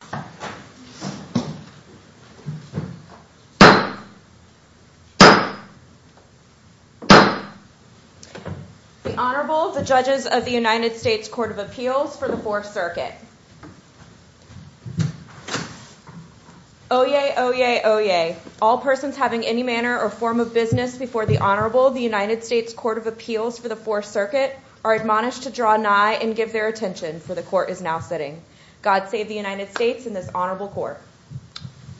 The Honorable, the Judges of the United States Court of Appeals for the Fourth Circuit. Oyez, oyez, oyez. All persons having any manner or form of business before the Honorable, the United States Court of Appeals for the Fourth Circuit are admonished to draw nigh and give their attention, for the Court is now sitting. God save the United States and this Honorable Court.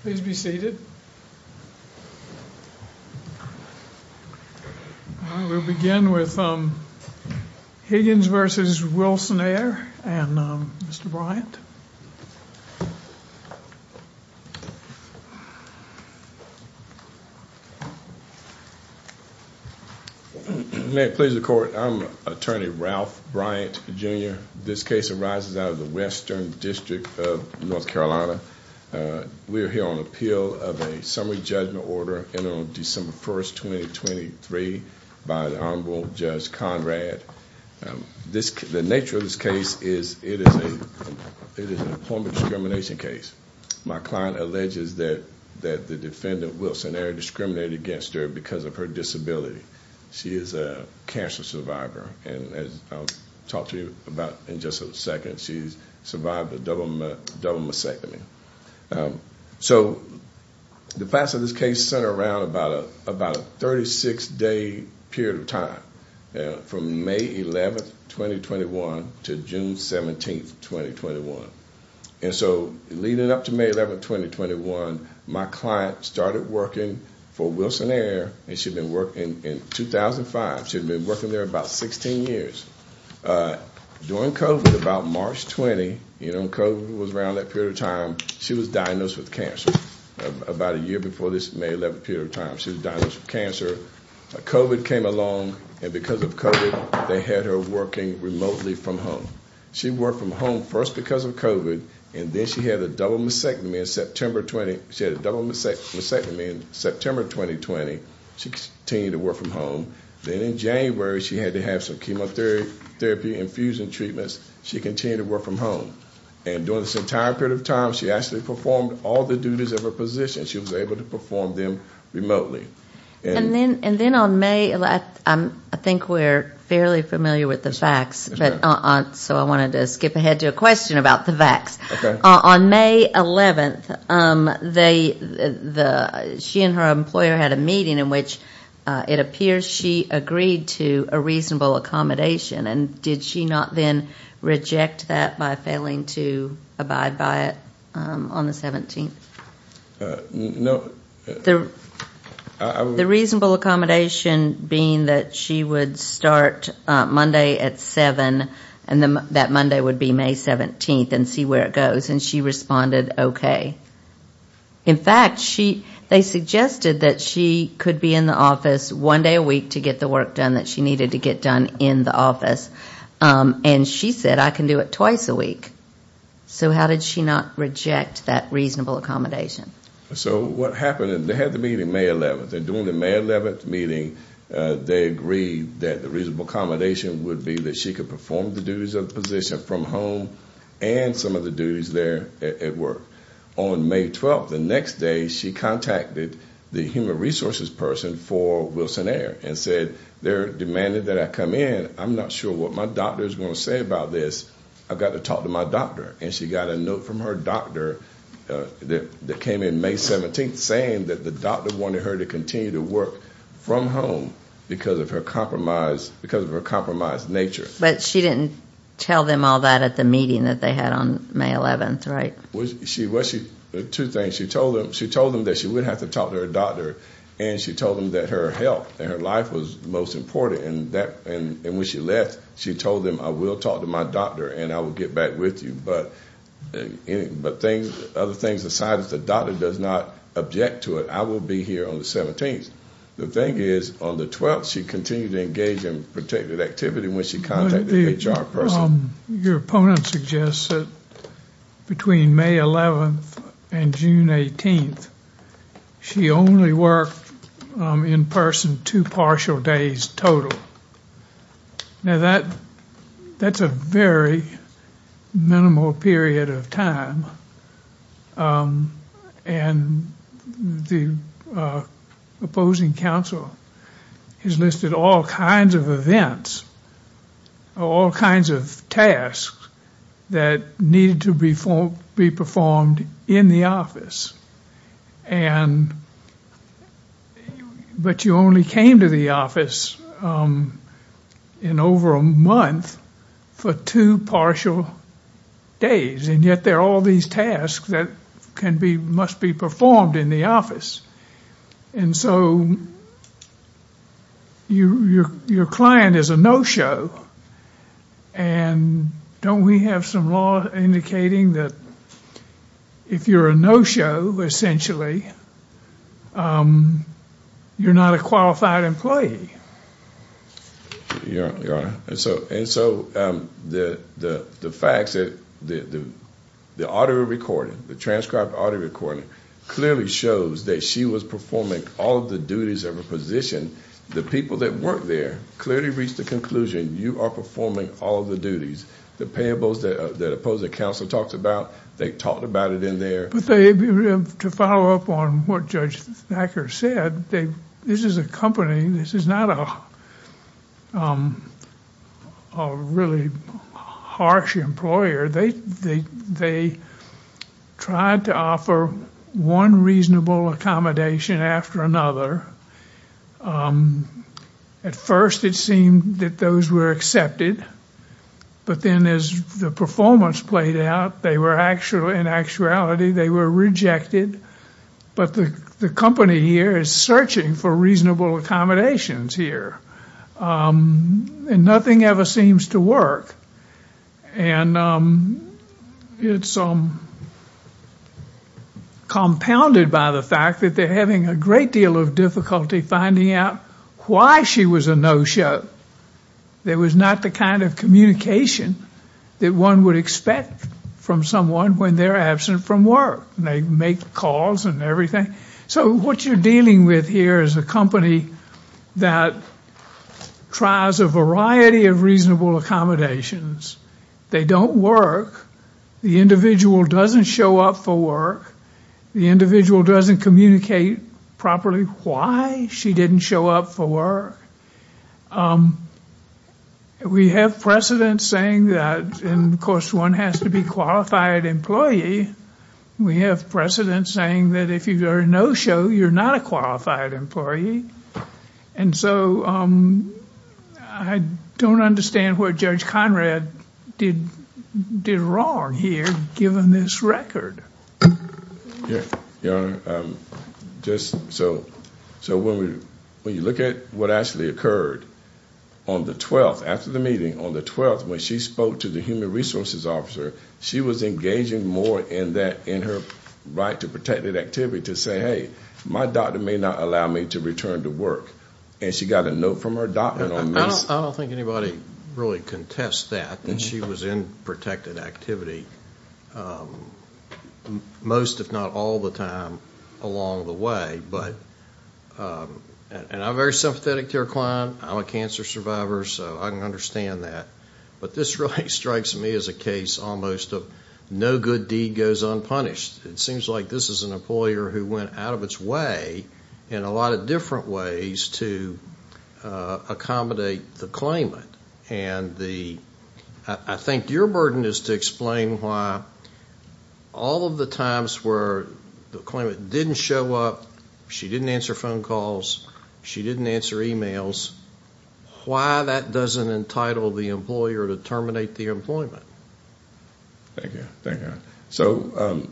Please be seated. We'll begin with Higgins v. Wilson Air and Mr. Bryant. May it please the Court, I'm Attorney Ralph Bryant, Jr. This case arises out of the Western District of North Carolina. We are here on appeal of a summary judgment order in on December 1st, 2023 by the Honorable Judge Conrad. The nature of this case is it is a form of discrimination case. My client alleges that the defendant, Wilson Air, discriminated against her because of her disability. She is a cancer survivor and as I'll talk to you about in just a second, she's survived a double mastectomy. The facts of this case center around about a 36-day period of time from May 11th, 2021 to June 17th, 2021. Leading up to May 11th, 2021, my client started working for Wilson Air and she'd been working in 2005. She'd been working there about 16 years. During COVID, about March 20, when COVID was around that period of time, she was diagnosed with cancer about a year before this May 11th period of time. She was diagnosed with cancer. COVID came along and because of COVID, they had her working remotely from home. She worked from home first because of COVID and then she had a double mastectomy in September 2020. She continued to work from home. Then in January, she had to have some chemotherapy infusion treatments. She continued to work from home. During this entire period of time, she actually performed all the duties of her position. She was able to perform them remotely. And then on May 11th, I think we're fairly familiar with the facts, so I wanted to skip ahead to a question about the facts. On May 11th, she and her employer had a meeting in which it appears she agreed to a reasonable accommodation. And did she not then reject that by failing to abide by it on the 17th? Reasonable accommodation being that she would start Monday at 7 and that Monday would be May 17 and see where it goes. And she responded, okay. In fact, they suggested that she could be in the office one day a week to get the work done that she needed to get done in the office. And she said, I can do it twice a week. So how did she not reject that reasonable accommodation? So what happened, they had the meeting May 11th. They're doing the May 11th meeting. They agreed that the reasonable accommodation would be that she could perform the duties of the position from home and some of the duties there at work. On May 12th, the next day, she contacted the human resources person for Wilson Air and said, they're demanding that I come in. I'm not sure what my doctor is going to say about this. I've got to talk to my doctor. And she got a note from her doctor that came in May 17th saying that the doctor wanted her to continue to work from home because of her compromised nature. But she didn't tell them all that at the meeting that they had on May 11th, right? Two things. She told them that she would have to talk to her doctor. And she told them that her health and her life was most important. And when she left, she told them, I will talk to my doctor and I will get back with you. But other things aside, if the doctor does not object to it, I will be here on the 17th. The thing is, on the 12th, she continued to engage in protected activity when she contacted the HR person. Your opponent suggests that between May 11th and June 18th, she only worked in person two partial days total. Now, that's a very minimal period of time. And the opposing counsel has listed all kinds of events, all kinds of tasks that needed to be performed in the office. But you only came to the office in over a month for two partial days. And yet, there are all these tasks that must be performed in the office. And so, your client is a no-show. And don't we have some law indicating that if you're a no-show, essentially, you're not a qualified employee? Your Honor, and so, the facts, the audio recording, the transcribed audio recording, clearly shows that she was performing all of the duties of a position. The people that worked there clearly reached the conclusion, you are performing all of the duties. The payables that the opposing counsel talked about, they talked about it in there. But to follow up on what Judge Thacker said, this is a company, this is not a company. This is not a really harsh employer. They tried to offer one reasonable accommodation after another. At first, it seemed that those were accepted. But then, as the performance played out, they were, in actuality, they were rejected. But the company here is searching for reasonable accommodations here. And nothing ever seems to work. And it's compounded by the fact that they're having a great deal of difficulty finding out why she was a no-show. There was not the kind of communication that one would expect from someone when they're absent from work. They make calls and everything. So what you're dealing with here is a company that tries a variety of reasonable accommodations. They don't work. The individual doesn't show up for work. The individual doesn't communicate properly why she didn't show up for work. We have precedent saying that, and of course, one has to be qualified employee. We have precedent saying that if you're a no-show, you're not a qualified employee. And so, I don't understand what Judge Conrad did wrong here, given this record. Yeah, Your Honor. So when you look at what actually occurred, on the 12th, after the meeting, on the 12th, when she spoke to the human resources officer, she was engaging more in her right to protected activity to say, hey, my doctor may not allow me to return to work. And she got a note from her doctor on this. I don't think anybody really contests that, that she was in protected activity most, if not all the time, along the way. And I'm very sympathetic to her client. I'm a cancer survivor, so I can understand that. But this really strikes me as a case almost of no good deed goes unpunished. It seems like this is an employer who went out of its way, in a lot of different ways, to accommodate the claimant. And I think your burden is to explain why all of the times where the claimant didn't show up, she didn't answer phone calls, she didn't answer emails, why that doesn't entitle the employer to terminate the employment. Thank you, thank you. So,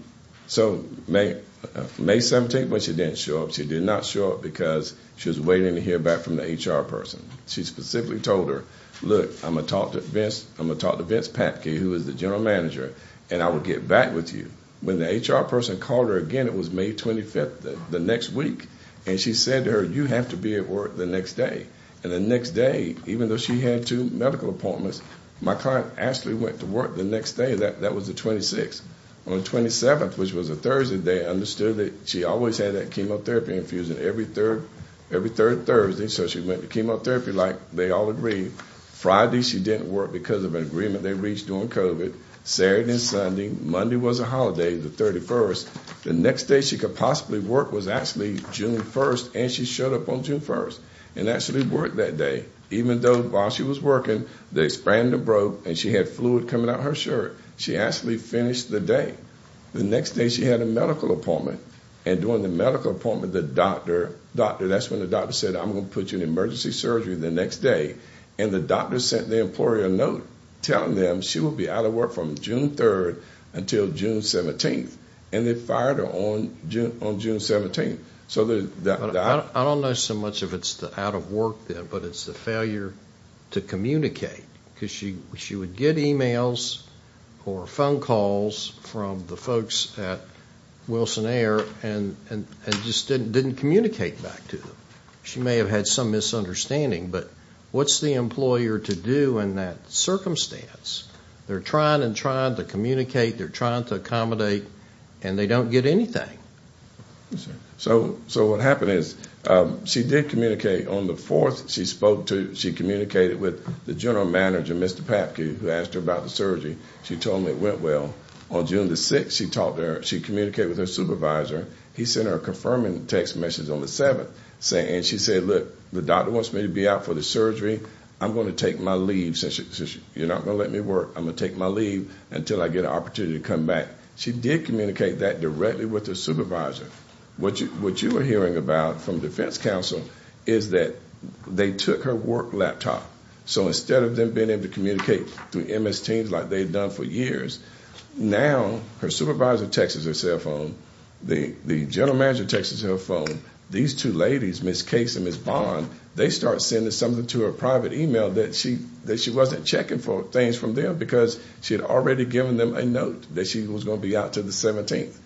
May 17th, when she didn't show up, she did not show up because she was waiting to hear back from the HR person. She specifically told her, look, I'm going to talk to Vince, I'm going to talk to Vince Patkey, who is the general manager, and I will get back with you. When the HR person called her again, it was May 25th, the next week, and she said to her, you have to be at work the next day. And the next day, even though she had two medical appointments, my client actually went to work the next day, that was the 26th. On the 27th, which was a Thursday, they understood that she always had that chemotherapy infusion, every third Thursday, so she went to chemotherapy like they all agreed. Friday, she didn't work because of an agreement they reached during COVID. Saturday and Sunday, Monday was a holiday, the 31st. The next day she could possibly work was actually June 1st, and she showed up on June 1st. And actually worked that day, even though while she was working, the expander broke and she had fluid coming out of her shirt. She actually finished the day. The next day she had a medical appointment, and during the medical appointment, the doctor, doctor, that's when the doctor said, I'm going to put you in emergency surgery the next day. And the doctor sent the employer a note telling them she would be out of work from June 3rd until June 17th. And they fired her on June 17th. I don't know so much if it's the out of work, but it's the failure to communicate, because she would get emails or phone calls from the folks at Wilson Air and just didn't communicate back to them. She may have had some misunderstanding, but what's the employer to do in that circumstance? They're trying and trying to communicate. They're trying to accommodate, and they don't get anything. So what happened is she did communicate on the 4th. She spoke to, she communicated with the general manager, Mr. Papke, who asked her about the She told him it went well. On June the 6th, she talked to her. She communicated with her supervisor. He sent her a confirming text message on the 7th, and she said, look, the doctor wants me to be out for the surgery. I'm going to take my leave since you're not going to let me work. I'm going to take my leave until I get an opportunity to come back. She did communicate that directly with her supervisor. What you were hearing about from defense counsel is that they took her work laptop. So instead of them being able to communicate through MS Teams like they've done for years, now her supervisor texts her cell phone. The general manager texts her cell phone. These two ladies, Ms. Case and Ms. Bond, they start sending something to her private email that she wasn't checking for things from them because she had already given them a note that she was going to be out until the 17th.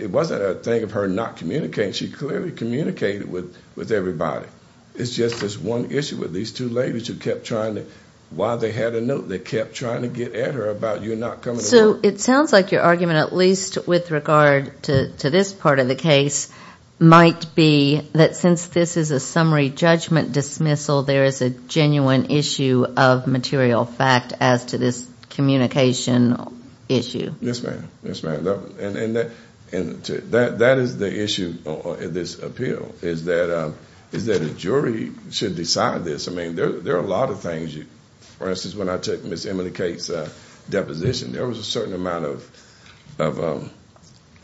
It wasn't a thing of her not communicating. She clearly communicated with everybody. It's just this one issue with these two ladies who kept trying to, while they had a note, they kept trying to get at her about you not coming to work. So it sounds like your argument, at least with regard to this part of the case, might be that since this is a summary judgment dismissal, there is a genuine issue of material fact as to this communication issue. Yes, ma'am. That is the issue of this appeal, is that a jury should decide this. There are a lot of things. For instance, when I took Ms. Emily Case's deposition, there was a certain amount of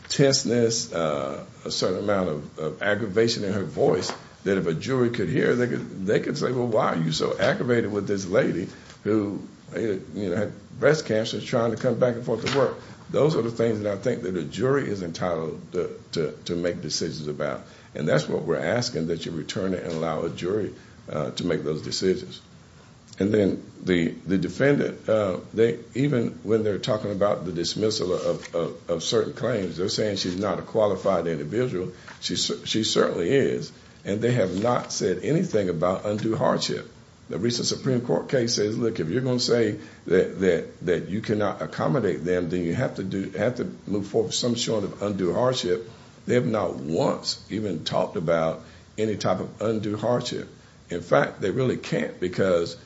tenseness, a certain amount of aggravation in her voice that if a jury could hear, they could say, well, why are you so aggravated with this lady who had breast cancer trying to come back and forth to work? Those are the things that I think that a jury is entitled to make decisions about. And that's what we're asking, that you return it and allow a jury to make those decisions. And then the defendant, even when they're talking about the dismissal of certain claims, they're saying she's not a qualified individual. She certainly is. And they have not said anything about undue hardship. The recent Supreme Court case says, look, if you're going to say that you cannot accommodate them, then you have to move forward with some sort of undue hardship. They have not once even talked about any type of undue hardship. In fact, they really can't because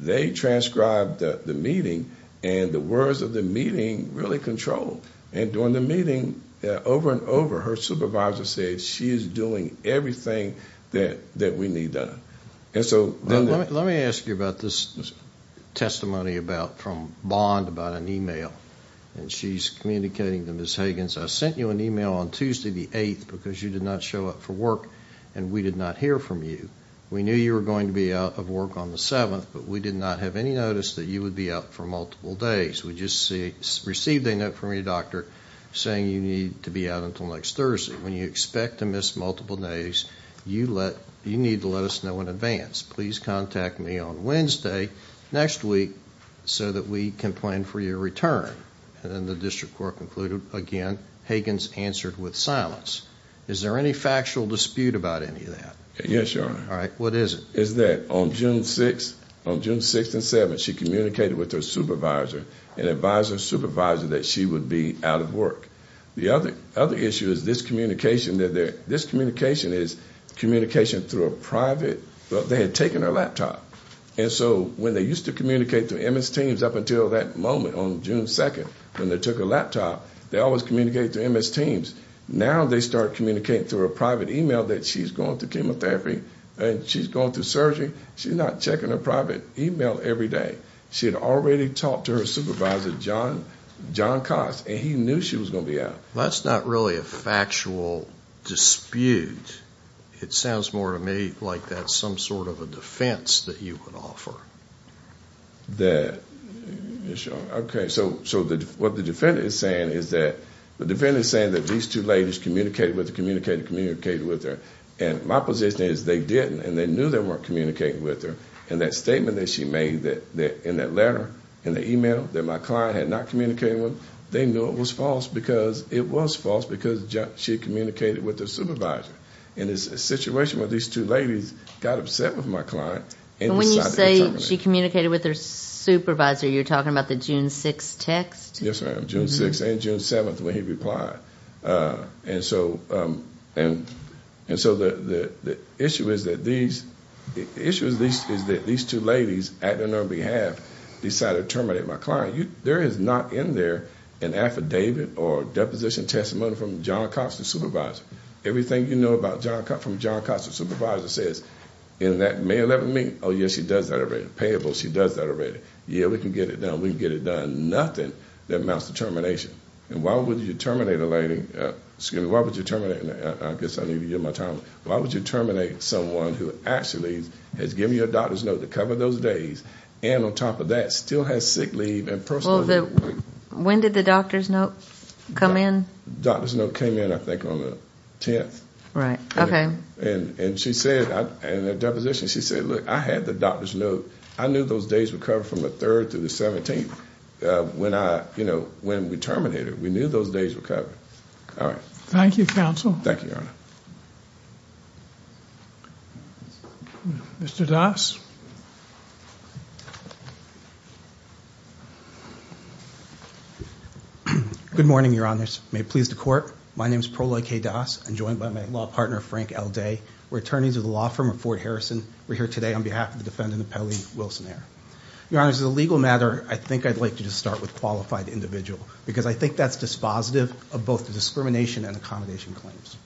they transcribed the meeting and the words of the meeting really control. And during the meeting, over and over, her supervisor said she is doing everything that we need done. Let me ask you about this testimony from Bond about an email, and she's communicating to Ms. Higgins, I sent you an email on Tuesday the 8th because you did not show up for work and we did not hear from you. We knew you were going to be out of work on the 7th, but we did not have any notice that you would be out for multiple days. We just received a note from your doctor saying you need to be out until next Thursday. When you expect to miss multiple days, you need to let us know in advance. Please contact me on Wednesday next week so that we can plan for your return. And then the district court concluded again. Higgins answered with silence. Is there any factual dispute about any of that? Yes, Your Honor. All right. What is it? It's that on June 6th and 7th, she communicated with her supervisor and advised her supervisor that she would be out of work. The other issue is this communication is communication through a private, they had taken her laptop. And so when they used to communicate through MS Teams up until that moment on June 2nd when they took her laptop, they always communicated through MS Teams. Now they start communicating through a private email that she's going through chemotherapy and she's going through surgery. She's not checking her private email every day. She had already talked to her supervisor, John Cox, and he knew she was going to be out. Well, that's not really a factual dispute. It sounds more to me like that's some sort of a defense that you would offer. That, yes, Your Honor. Okay. So what the defendant is saying is that the defendant is saying that these two ladies communicated with her, communicated, communicated with her. And my position is they didn't. And they knew they weren't communicating with her. And that statement that she made that in that letter, in the email that my client had not communicated with, they knew it was false because it was false because she communicated with the supervisor. And it's a situation where these two ladies got upset with my client. And when you say she communicated with her supervisor, you're talking about the June 6th text? Yes, ma'am. June 6th and June 7th when he replied. And so the issue is that these two ladies acting on her behalf decided to terminate my client. There is not in there an affidavit or deposition testimony from John Cox, the supervisor. Everything you know about John Cox from John Cox, the supervisor, says in that May 11 meeting, oh, yes, she does that already. Payable, she does that already. Yeah, we can get it done. We can get it done. Nothing that amounts to termination. And why would you terminate a lady, excuse me, why would you terminate, I guess I need to get my time, why would you terminate someone who actually has given you a doctor's note to cover those days and on top of that still has sick leave and personal leave? When did the doctor's note come in? Doctor's note came in, I think, on the 10th. Right, okay. And she said, in the deposition, she said, look, I had the doctor's note. I knew those days were covered from the 3rd to the 17th. When I, you know, when we terminated her, we knew those days were covered. All right. Thank you, counsel. Thank you, Your Honor. Mr. Das. Good morning, Your Honors. May it please the court. My name is Proloi K. Das. I'm joined by my law partner, Frank L. Day. We're attorneys at the law firm of Fort Harrison. We're here today on behalf of the defendant, Appelli Wilson-Eyre. Your Honors, as a legal matter, I think I'd like you to start with qualified individual because I think that's dispositive of both the discrimination and accommodation claims.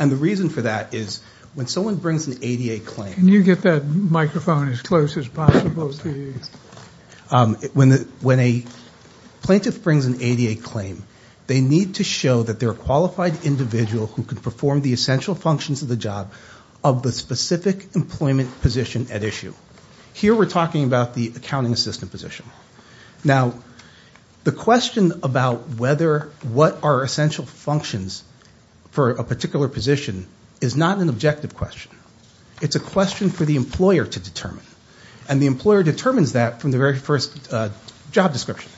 And the reason for that is when someone brings an ADA claim. Can you get that microphone as close as possible to you? When a plaintiff brings an ADA claim, they need to show that they're a qualified individual who can perform the essential functions of the job of the specific employment position at issue. Here, we're talking about the accounting assistant position. Now, the question about whether what are essential functions for a particular position is not an objective question. It's a question for the employer to determine. And the employer determines that from the very first job description.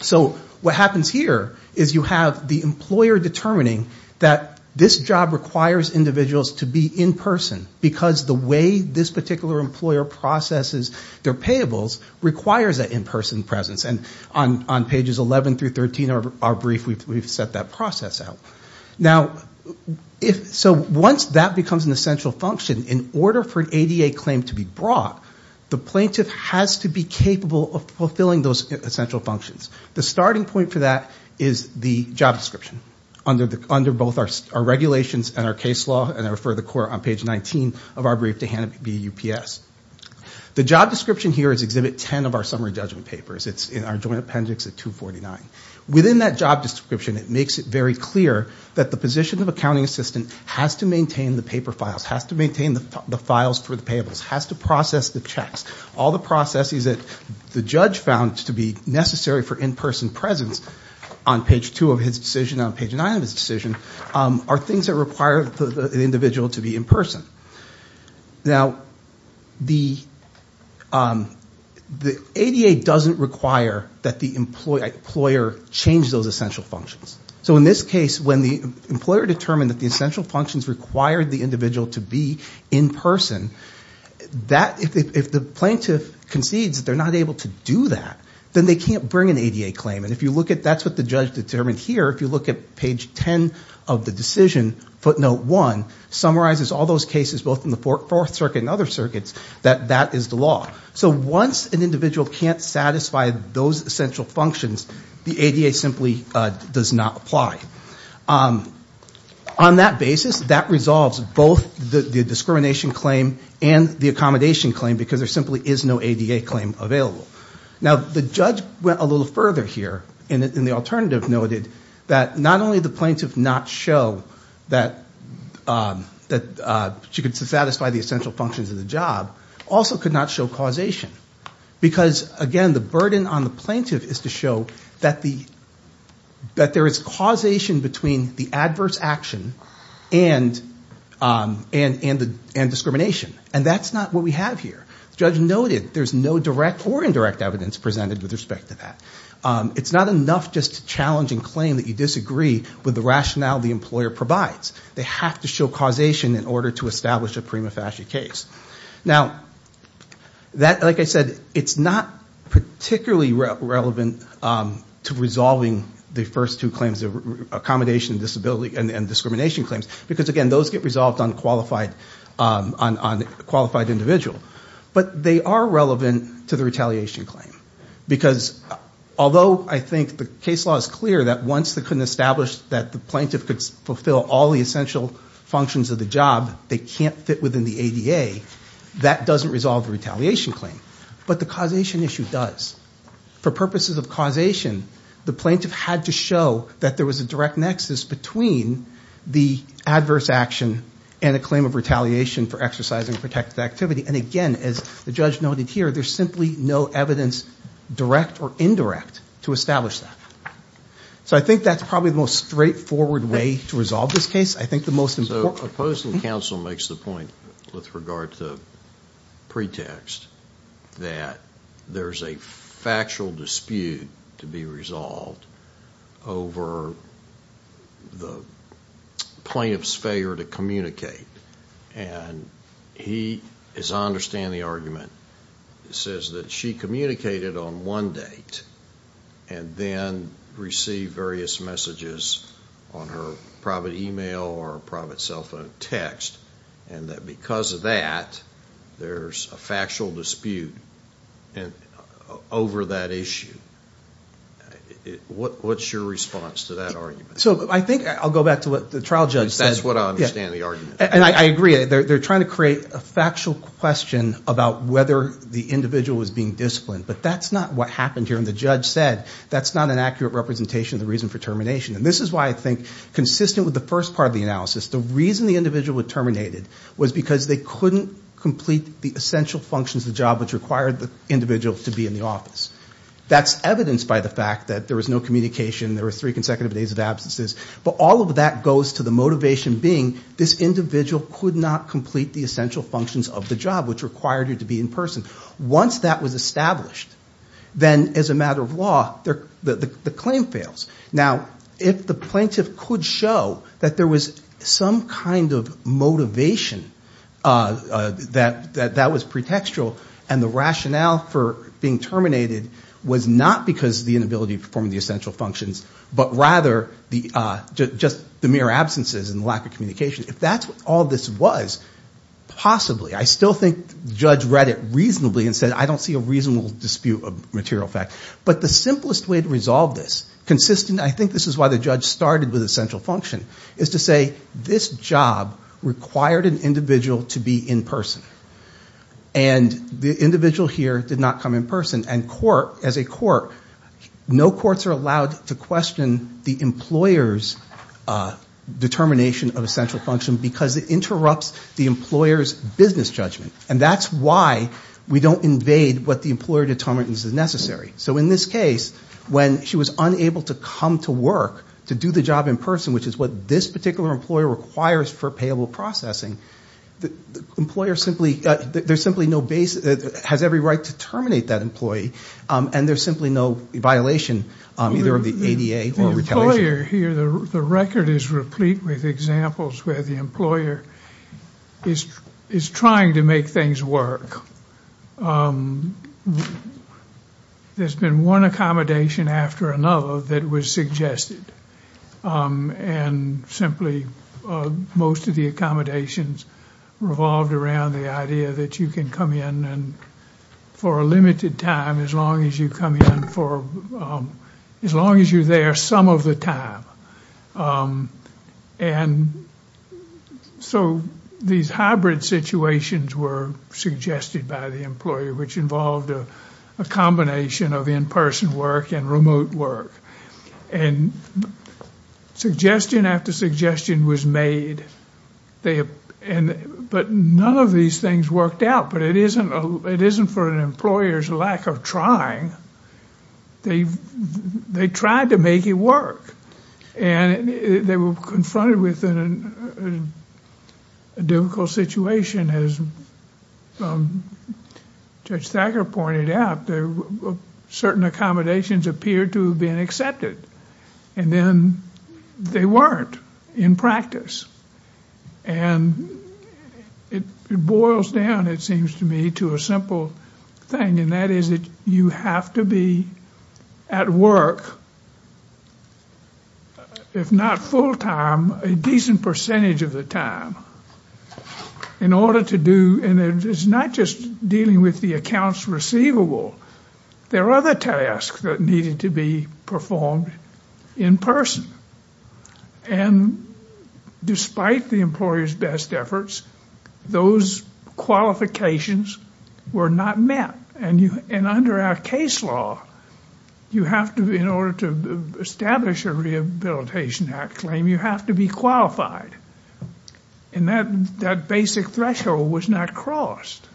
So what happens here is you have the employer determining that this job requires individuals to be in-person because the way this particular employer processes their payables requires that in-person presence. And on pages 11 through 13 of our brief, we've set that process out. Now, so once that becomes an essential function, in order for an ADA claim to be brought, the plaintiff has to be capable of fulfilling those essential functions. The starting point for that is the job description under both our regulations and our case law and I refer the court on page 19 of our brief to Hanna B. UPS. The job description here is exhibit 10 of our summary judgment papers. It's in our joint appendix at 249. Within that job description, it makes it very clear that the position of accounting assistant has to maintain the paper files, has to maintain the files for the payables, has to process the checks. All the processes that the judge found to be necessary for in-person presence on page two of his decision, on page nine of his decision, are things that require the individual to be in-person. Now, the ADA doesn't require that the employer change those essential functions. So in this case, when the employer determined that the essential functions required the individual to be in-person, if the plaintiff concedes that they're not able to do that, then they can't bring an ADA claim. That's what the judge determined here. If you look at page 10 of the decision, footnote one, it summarizes all those cases, both in the Fourth Circuit and other circuits, that that is the law. So once an individual can't satisfy those essential functions, the ADA simply does not apply. On that basis, that resolves both the discrimination claim and the accommodation claim because there simply is no ADA claim available. Now, the judge went a little further here, and the alternative noted that not only the plaintiff not show that she could satisfy the essential functions of the job, also could not show causation. Because, again, the burden on the plaintiff is to show that there is causation between the adverse action and discrimination. And that's not what we have here. The judge noted there's no direct or indirect evidence presented with respect to that. It's not enough just to challenge and claim that you disagree with the rationale the employer provides. They have to show causation in order to establish a prima facie case. Now, like I said, it's not particularly relevant to resolving the first two claims, accommodation and discrimination claims, because, again, those get resolved on qualified individual. But they are relevant to the retaliation claim because, although I think the case law is clear that once they can establish that the plaintiff could fulfill all the essential functions of the job, they can't fit within the ADA, that doesn't resolve the retaliation claim. But the causation issue does. For purposes of causation, the plaintiff had to show that there was a direct nexus between the adverse action and a claim of retaliation for exercising protected activity. And, again, as the judge noted here, there's simply no evidence direct or indirect to establish that. So I think that's probably the most straightforward way to resolve this case. I think the most important... So opposing counsel makes the point with regard to pretext that there's a factual dispute to be resolved over the plaintiff's failure to communicate. And he, as I understand the argument, says that she communicated on one date and then received various messages on her private email or private cell phone text, and that because of that, there's a factual dispute over that issue. What's your response to that argument? So I think I'll go back to what the trial judge says. That's what I understand the argument. And I agree. They're trying to create a factual question about whether the individual was being disciplined. But that's not what happened here. And the judge said that's not an accurate representation of the reason for termination. And this is why I think, consistent with the first part of the analysis, the reason the couldn't complete the essential functions of the job which required the individual to be in the office. That's evidenced by the fact that there was no communication. There were three consecutive days of absences. But all of that goes to the motivation being this individual could not complete the essential functions of the job which required her to be in person. Once that was established, then as a matter of law, the claim fails. Now, if the plaintiff could show that there was some kind of motivation that was pretextual, and the rationale for being terminated was not because of the inability to perform the essential functions, but rather just the mere absences and lack of communication. If that's what all this was, possibly. I still think the judge read it reasonably and said, I don't see a reasonable dispute of material fact. But the simplest way to resolve this, consistent, I think this is why the judge started with essential function, is to say, this job required an individual to be in person. And the individual here did not come in person. And court, as a court, no courts are allowed to question the employer's determination of essential function because it interrupts the employer's business judgment. And that's why we don't invade what the employer determines is necessary. In this case, when she was unable to come to work, to do the job in person, which is what this particular employer requires for payable processing, there's simply no basis, has every right to terminate that employee, and there's simply no violation either of the ADA or retaliation. The employer here, the record is replete with examples where the employer is trying to make things work. There's been one accommodation after another that was suggested. And simply, most of the accommodations revolved around the idea that you can come in for a limited time as long as you come in for, as long as you're there some of the time. And so these hybrid situations were suggested by the employer, which involved a combination of in-person work and remote work. And suggestion after suggestion was made. But none of these things worked out. But it isn't for an employer's lack of trying. They tried to make it work. And they were confronted with a difficult situation. As Judge Thacker pointed out, certain accommodations appeared to have been accepted, and then they weren't in practice. And it boils down, it seems to me, to a simple thing, and that is that you have to be at work, if not full time, a decent percentage of the time in order to do, and it's not just dealing with the accounts receivable. There are other tasks that needed to be performed in person. And despite the employer's best efforts, those qualifications were not met. And under our case law, you have to, in order to establish a Rehabilitation Act claim, you have to be qualified. And that basic threshold was not crossed.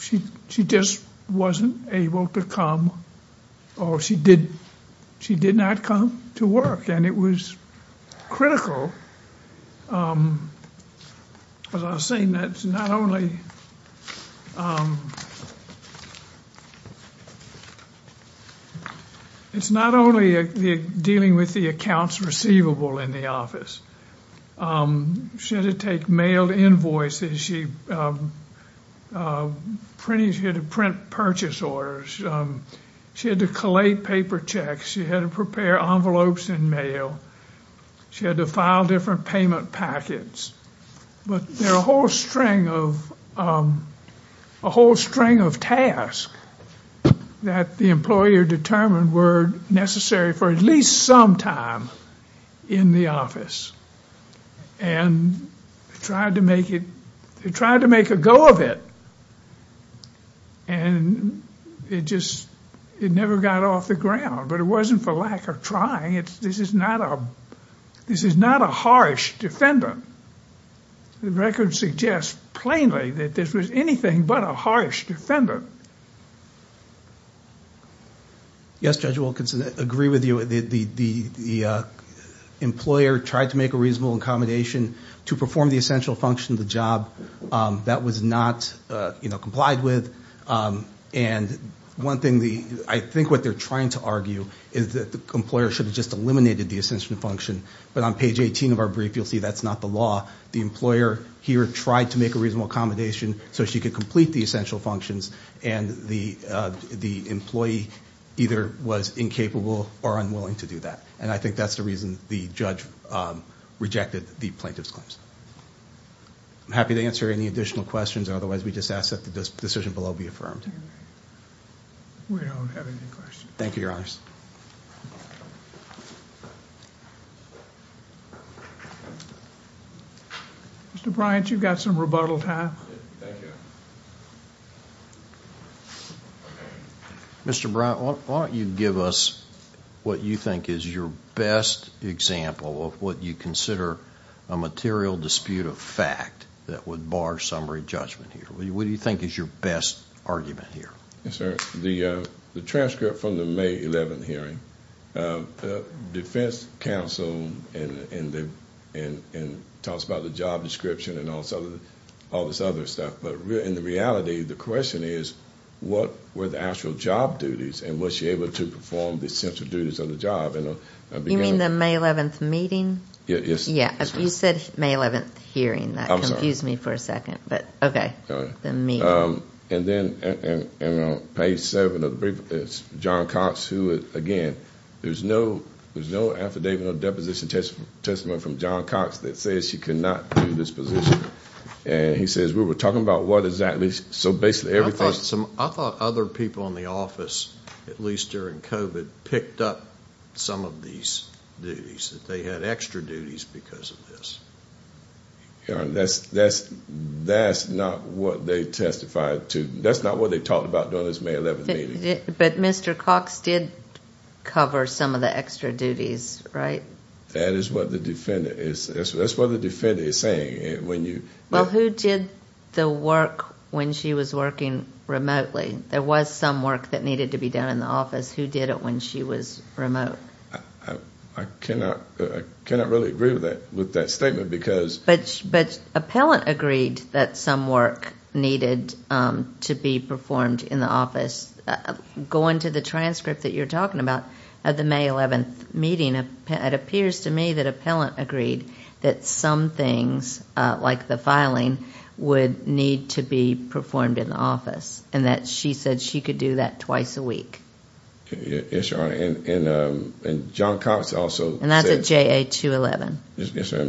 She just wasn't able to come, or she did not come to work. And it was critical. As I was saying, it's not only dealing with the accounts receivable in the office. She had to take mail invoices. She had to print purchase orders. She had to collate paper checks. She had to prepare envelopes in mail. She had to file different payment packets. But there are a whole string of, a whole string of tasks that the employer determined were necessary for at least some time in the office. And they tried to make it, they tried to make a go of it. And it just, it never got off the ground. But it wasn't for lack of trying. This is not a, this is not a harsh defendant. The record suggests plainly that this was anything but a harsh defendant. Yes, Judge Wilkinson, I agree with you. The employer tried to make a reasonable accommodation to perform the essential function of the job that was not, you know, complied with. And one thing, I think what they're trying to argue is that the employer should have just eliminated the essential function. But on page 18 of our brief, you'll see that's not the law. The employer here tried to make a reasonable accommodation so she could complete the essential functions and the employee either was incapable or unwilling to do that. And I think that's the reason the judge rejected the plaintiff's claims. I'm happy to answer any additional questions. Otherwise, we just ask that the decision below be affirmed. We don't have any questions. Thank you, Your Honor. Mr. Bryant, you've got some rebuttal time. Mr. Bryant, why don't you give us what you think is your best example of what you consider a material dispute of fact that would bar summary judgment here? What do you think is your best argument here? Yes, sir. The transcript from the May 11th hearing, the defense counsel talks about the job description and all this other stuff. But in reality, the question is what were the actual job duties and was she able to perform the essential duties of the job? You mean the May 11th meeting? Yes. Yeah. You said May 11th hearing. That confused me for a second. But okay. And then on page seven of the brief, it's John Cox who, again, there's no affidavit or deposition testimony from John Cox that says she could not do this position. And he says, we were talking about what exactly. So basically, everything. I thought other people in the office, at least during COVID, picked up some of these duties, that they had extra duties because of this. And that's not what they testified to. That's not what they talked about during this May 11th meeting. But Mr. Cox did cover some of the extra duties, right? That is what the defendant is saying. Well, who did the work when she was working remotely? There was some work that needed to be done in the office. Who did it when she was remote? I cannot really agree with that statement because- But appellant agreed that some work needed to be performed in the office. Going to the transcript that you're talking about at the May 11th meeting, it appears to me that appellant agreed that some things, like the filing, would need to be performed in the office. And that she said she could do that twice a week. Yes, Your Honor. And John Cox also- And that's at JA-211.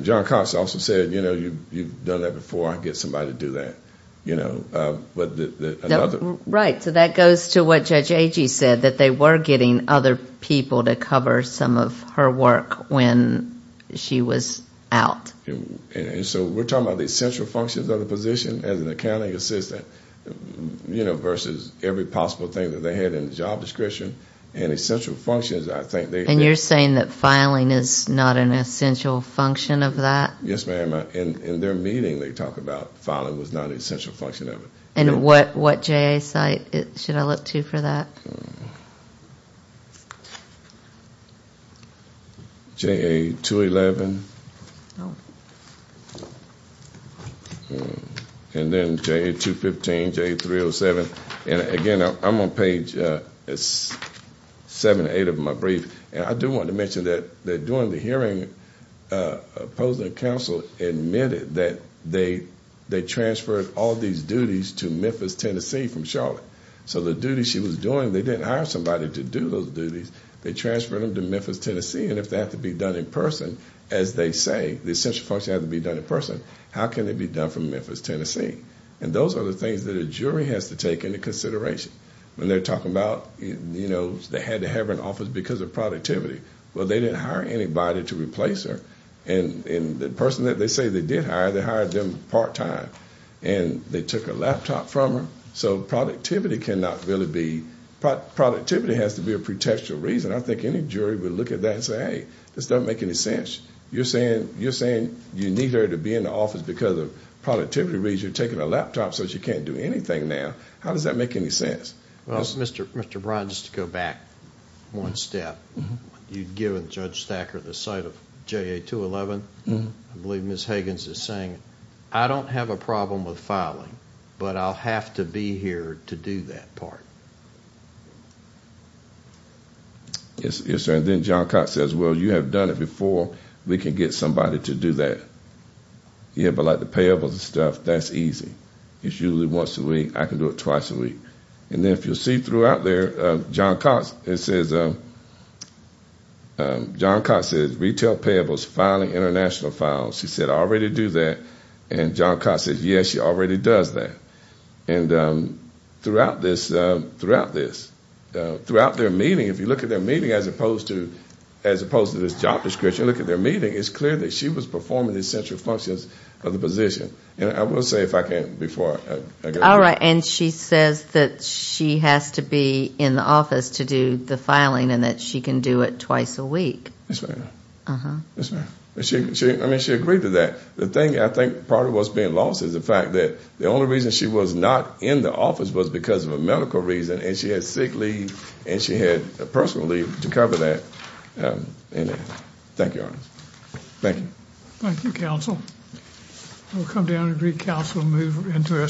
John Cox also said, you've done that before. I'll get somebody to do that. Right. So that goes to what Judge Agee said, that they were getting other people to cover some of her work when she was out. So we're talking about the essential functions of the position as an accounting assistant you know, versus every possible thing that they had in the job description and essential functions, I think they- And you're saying that filing is not an essential function of that? Yes, ma'am. In their meeting, they talk about filing was not an essential function of it. And what JA site should I look to for that? JA-211. Oh. And then JA-215, JA-307. And again, I'm on page seven or eight of my brief. And I do want to mention that during the hearing, opposing counsel admitted that they transferred all these duties to Memphis, Tennessee from Charlotte. So the duties she was doing, they didn't hire somebody to do those duties. They transferred them to Memphis, Tennessee. And if they have to be done in person, as they say, the essential function has to be done in person. How can it be done from Memphis, Tennessee? And those are the things that a jury has to take into consideration when they're talking about, you know, they had to have an office because of productivity. Well, they didn't hire anybody to replace her. And the person that they say they did hire, they hired them part time. And they took a laptop from her. So productivity cannot really be- productivity has to be a pretextual reason. I think any jury would look at that and say, hey, this doesn't make any sense. You're saying you need her to be in the office because of productivity reasons. You're taking a laptop so she can't do anything now. How does that make any sense? Well, Mr. Bryan, just to go back one step. You've given Judge Thacker the site of JA-211. I believe Ms. Higgins is saying, I don't have a problem with filing, but I'll have to be here to do that part. Then John Cox says, well, you have done it before. We can get somebody to do that. Yeah, but like the payables and stuff, that's easy. It's usually once a week. I can do it twice a week. And then if you'll see throughout there, John Cox, it says- John Cox says retail payables, filing international files. She said, I already do that. And John Cox says, yes, she already does that. And throughout this- throughout their meeting, if you look at their meeting as opposed to this job description, look at their meeting, it's clear that she was performing the essential functions of the position. And I will say, if I can, before I go- All right. And she says that she has to be in the office to do the filing and that she can do it twice a week. Yes, ma'am. Yes, ma'am. I mean, she agreed to that. The thing, I think, part of what's being lost is the fact that the only reason she was not in the office was because of a medical reason. And she had sick leave and she had a personal leave to cover that. Thank you, Your Honor. Thank you. Thank you, counsel. We'll come down and recounsel and move into our second case.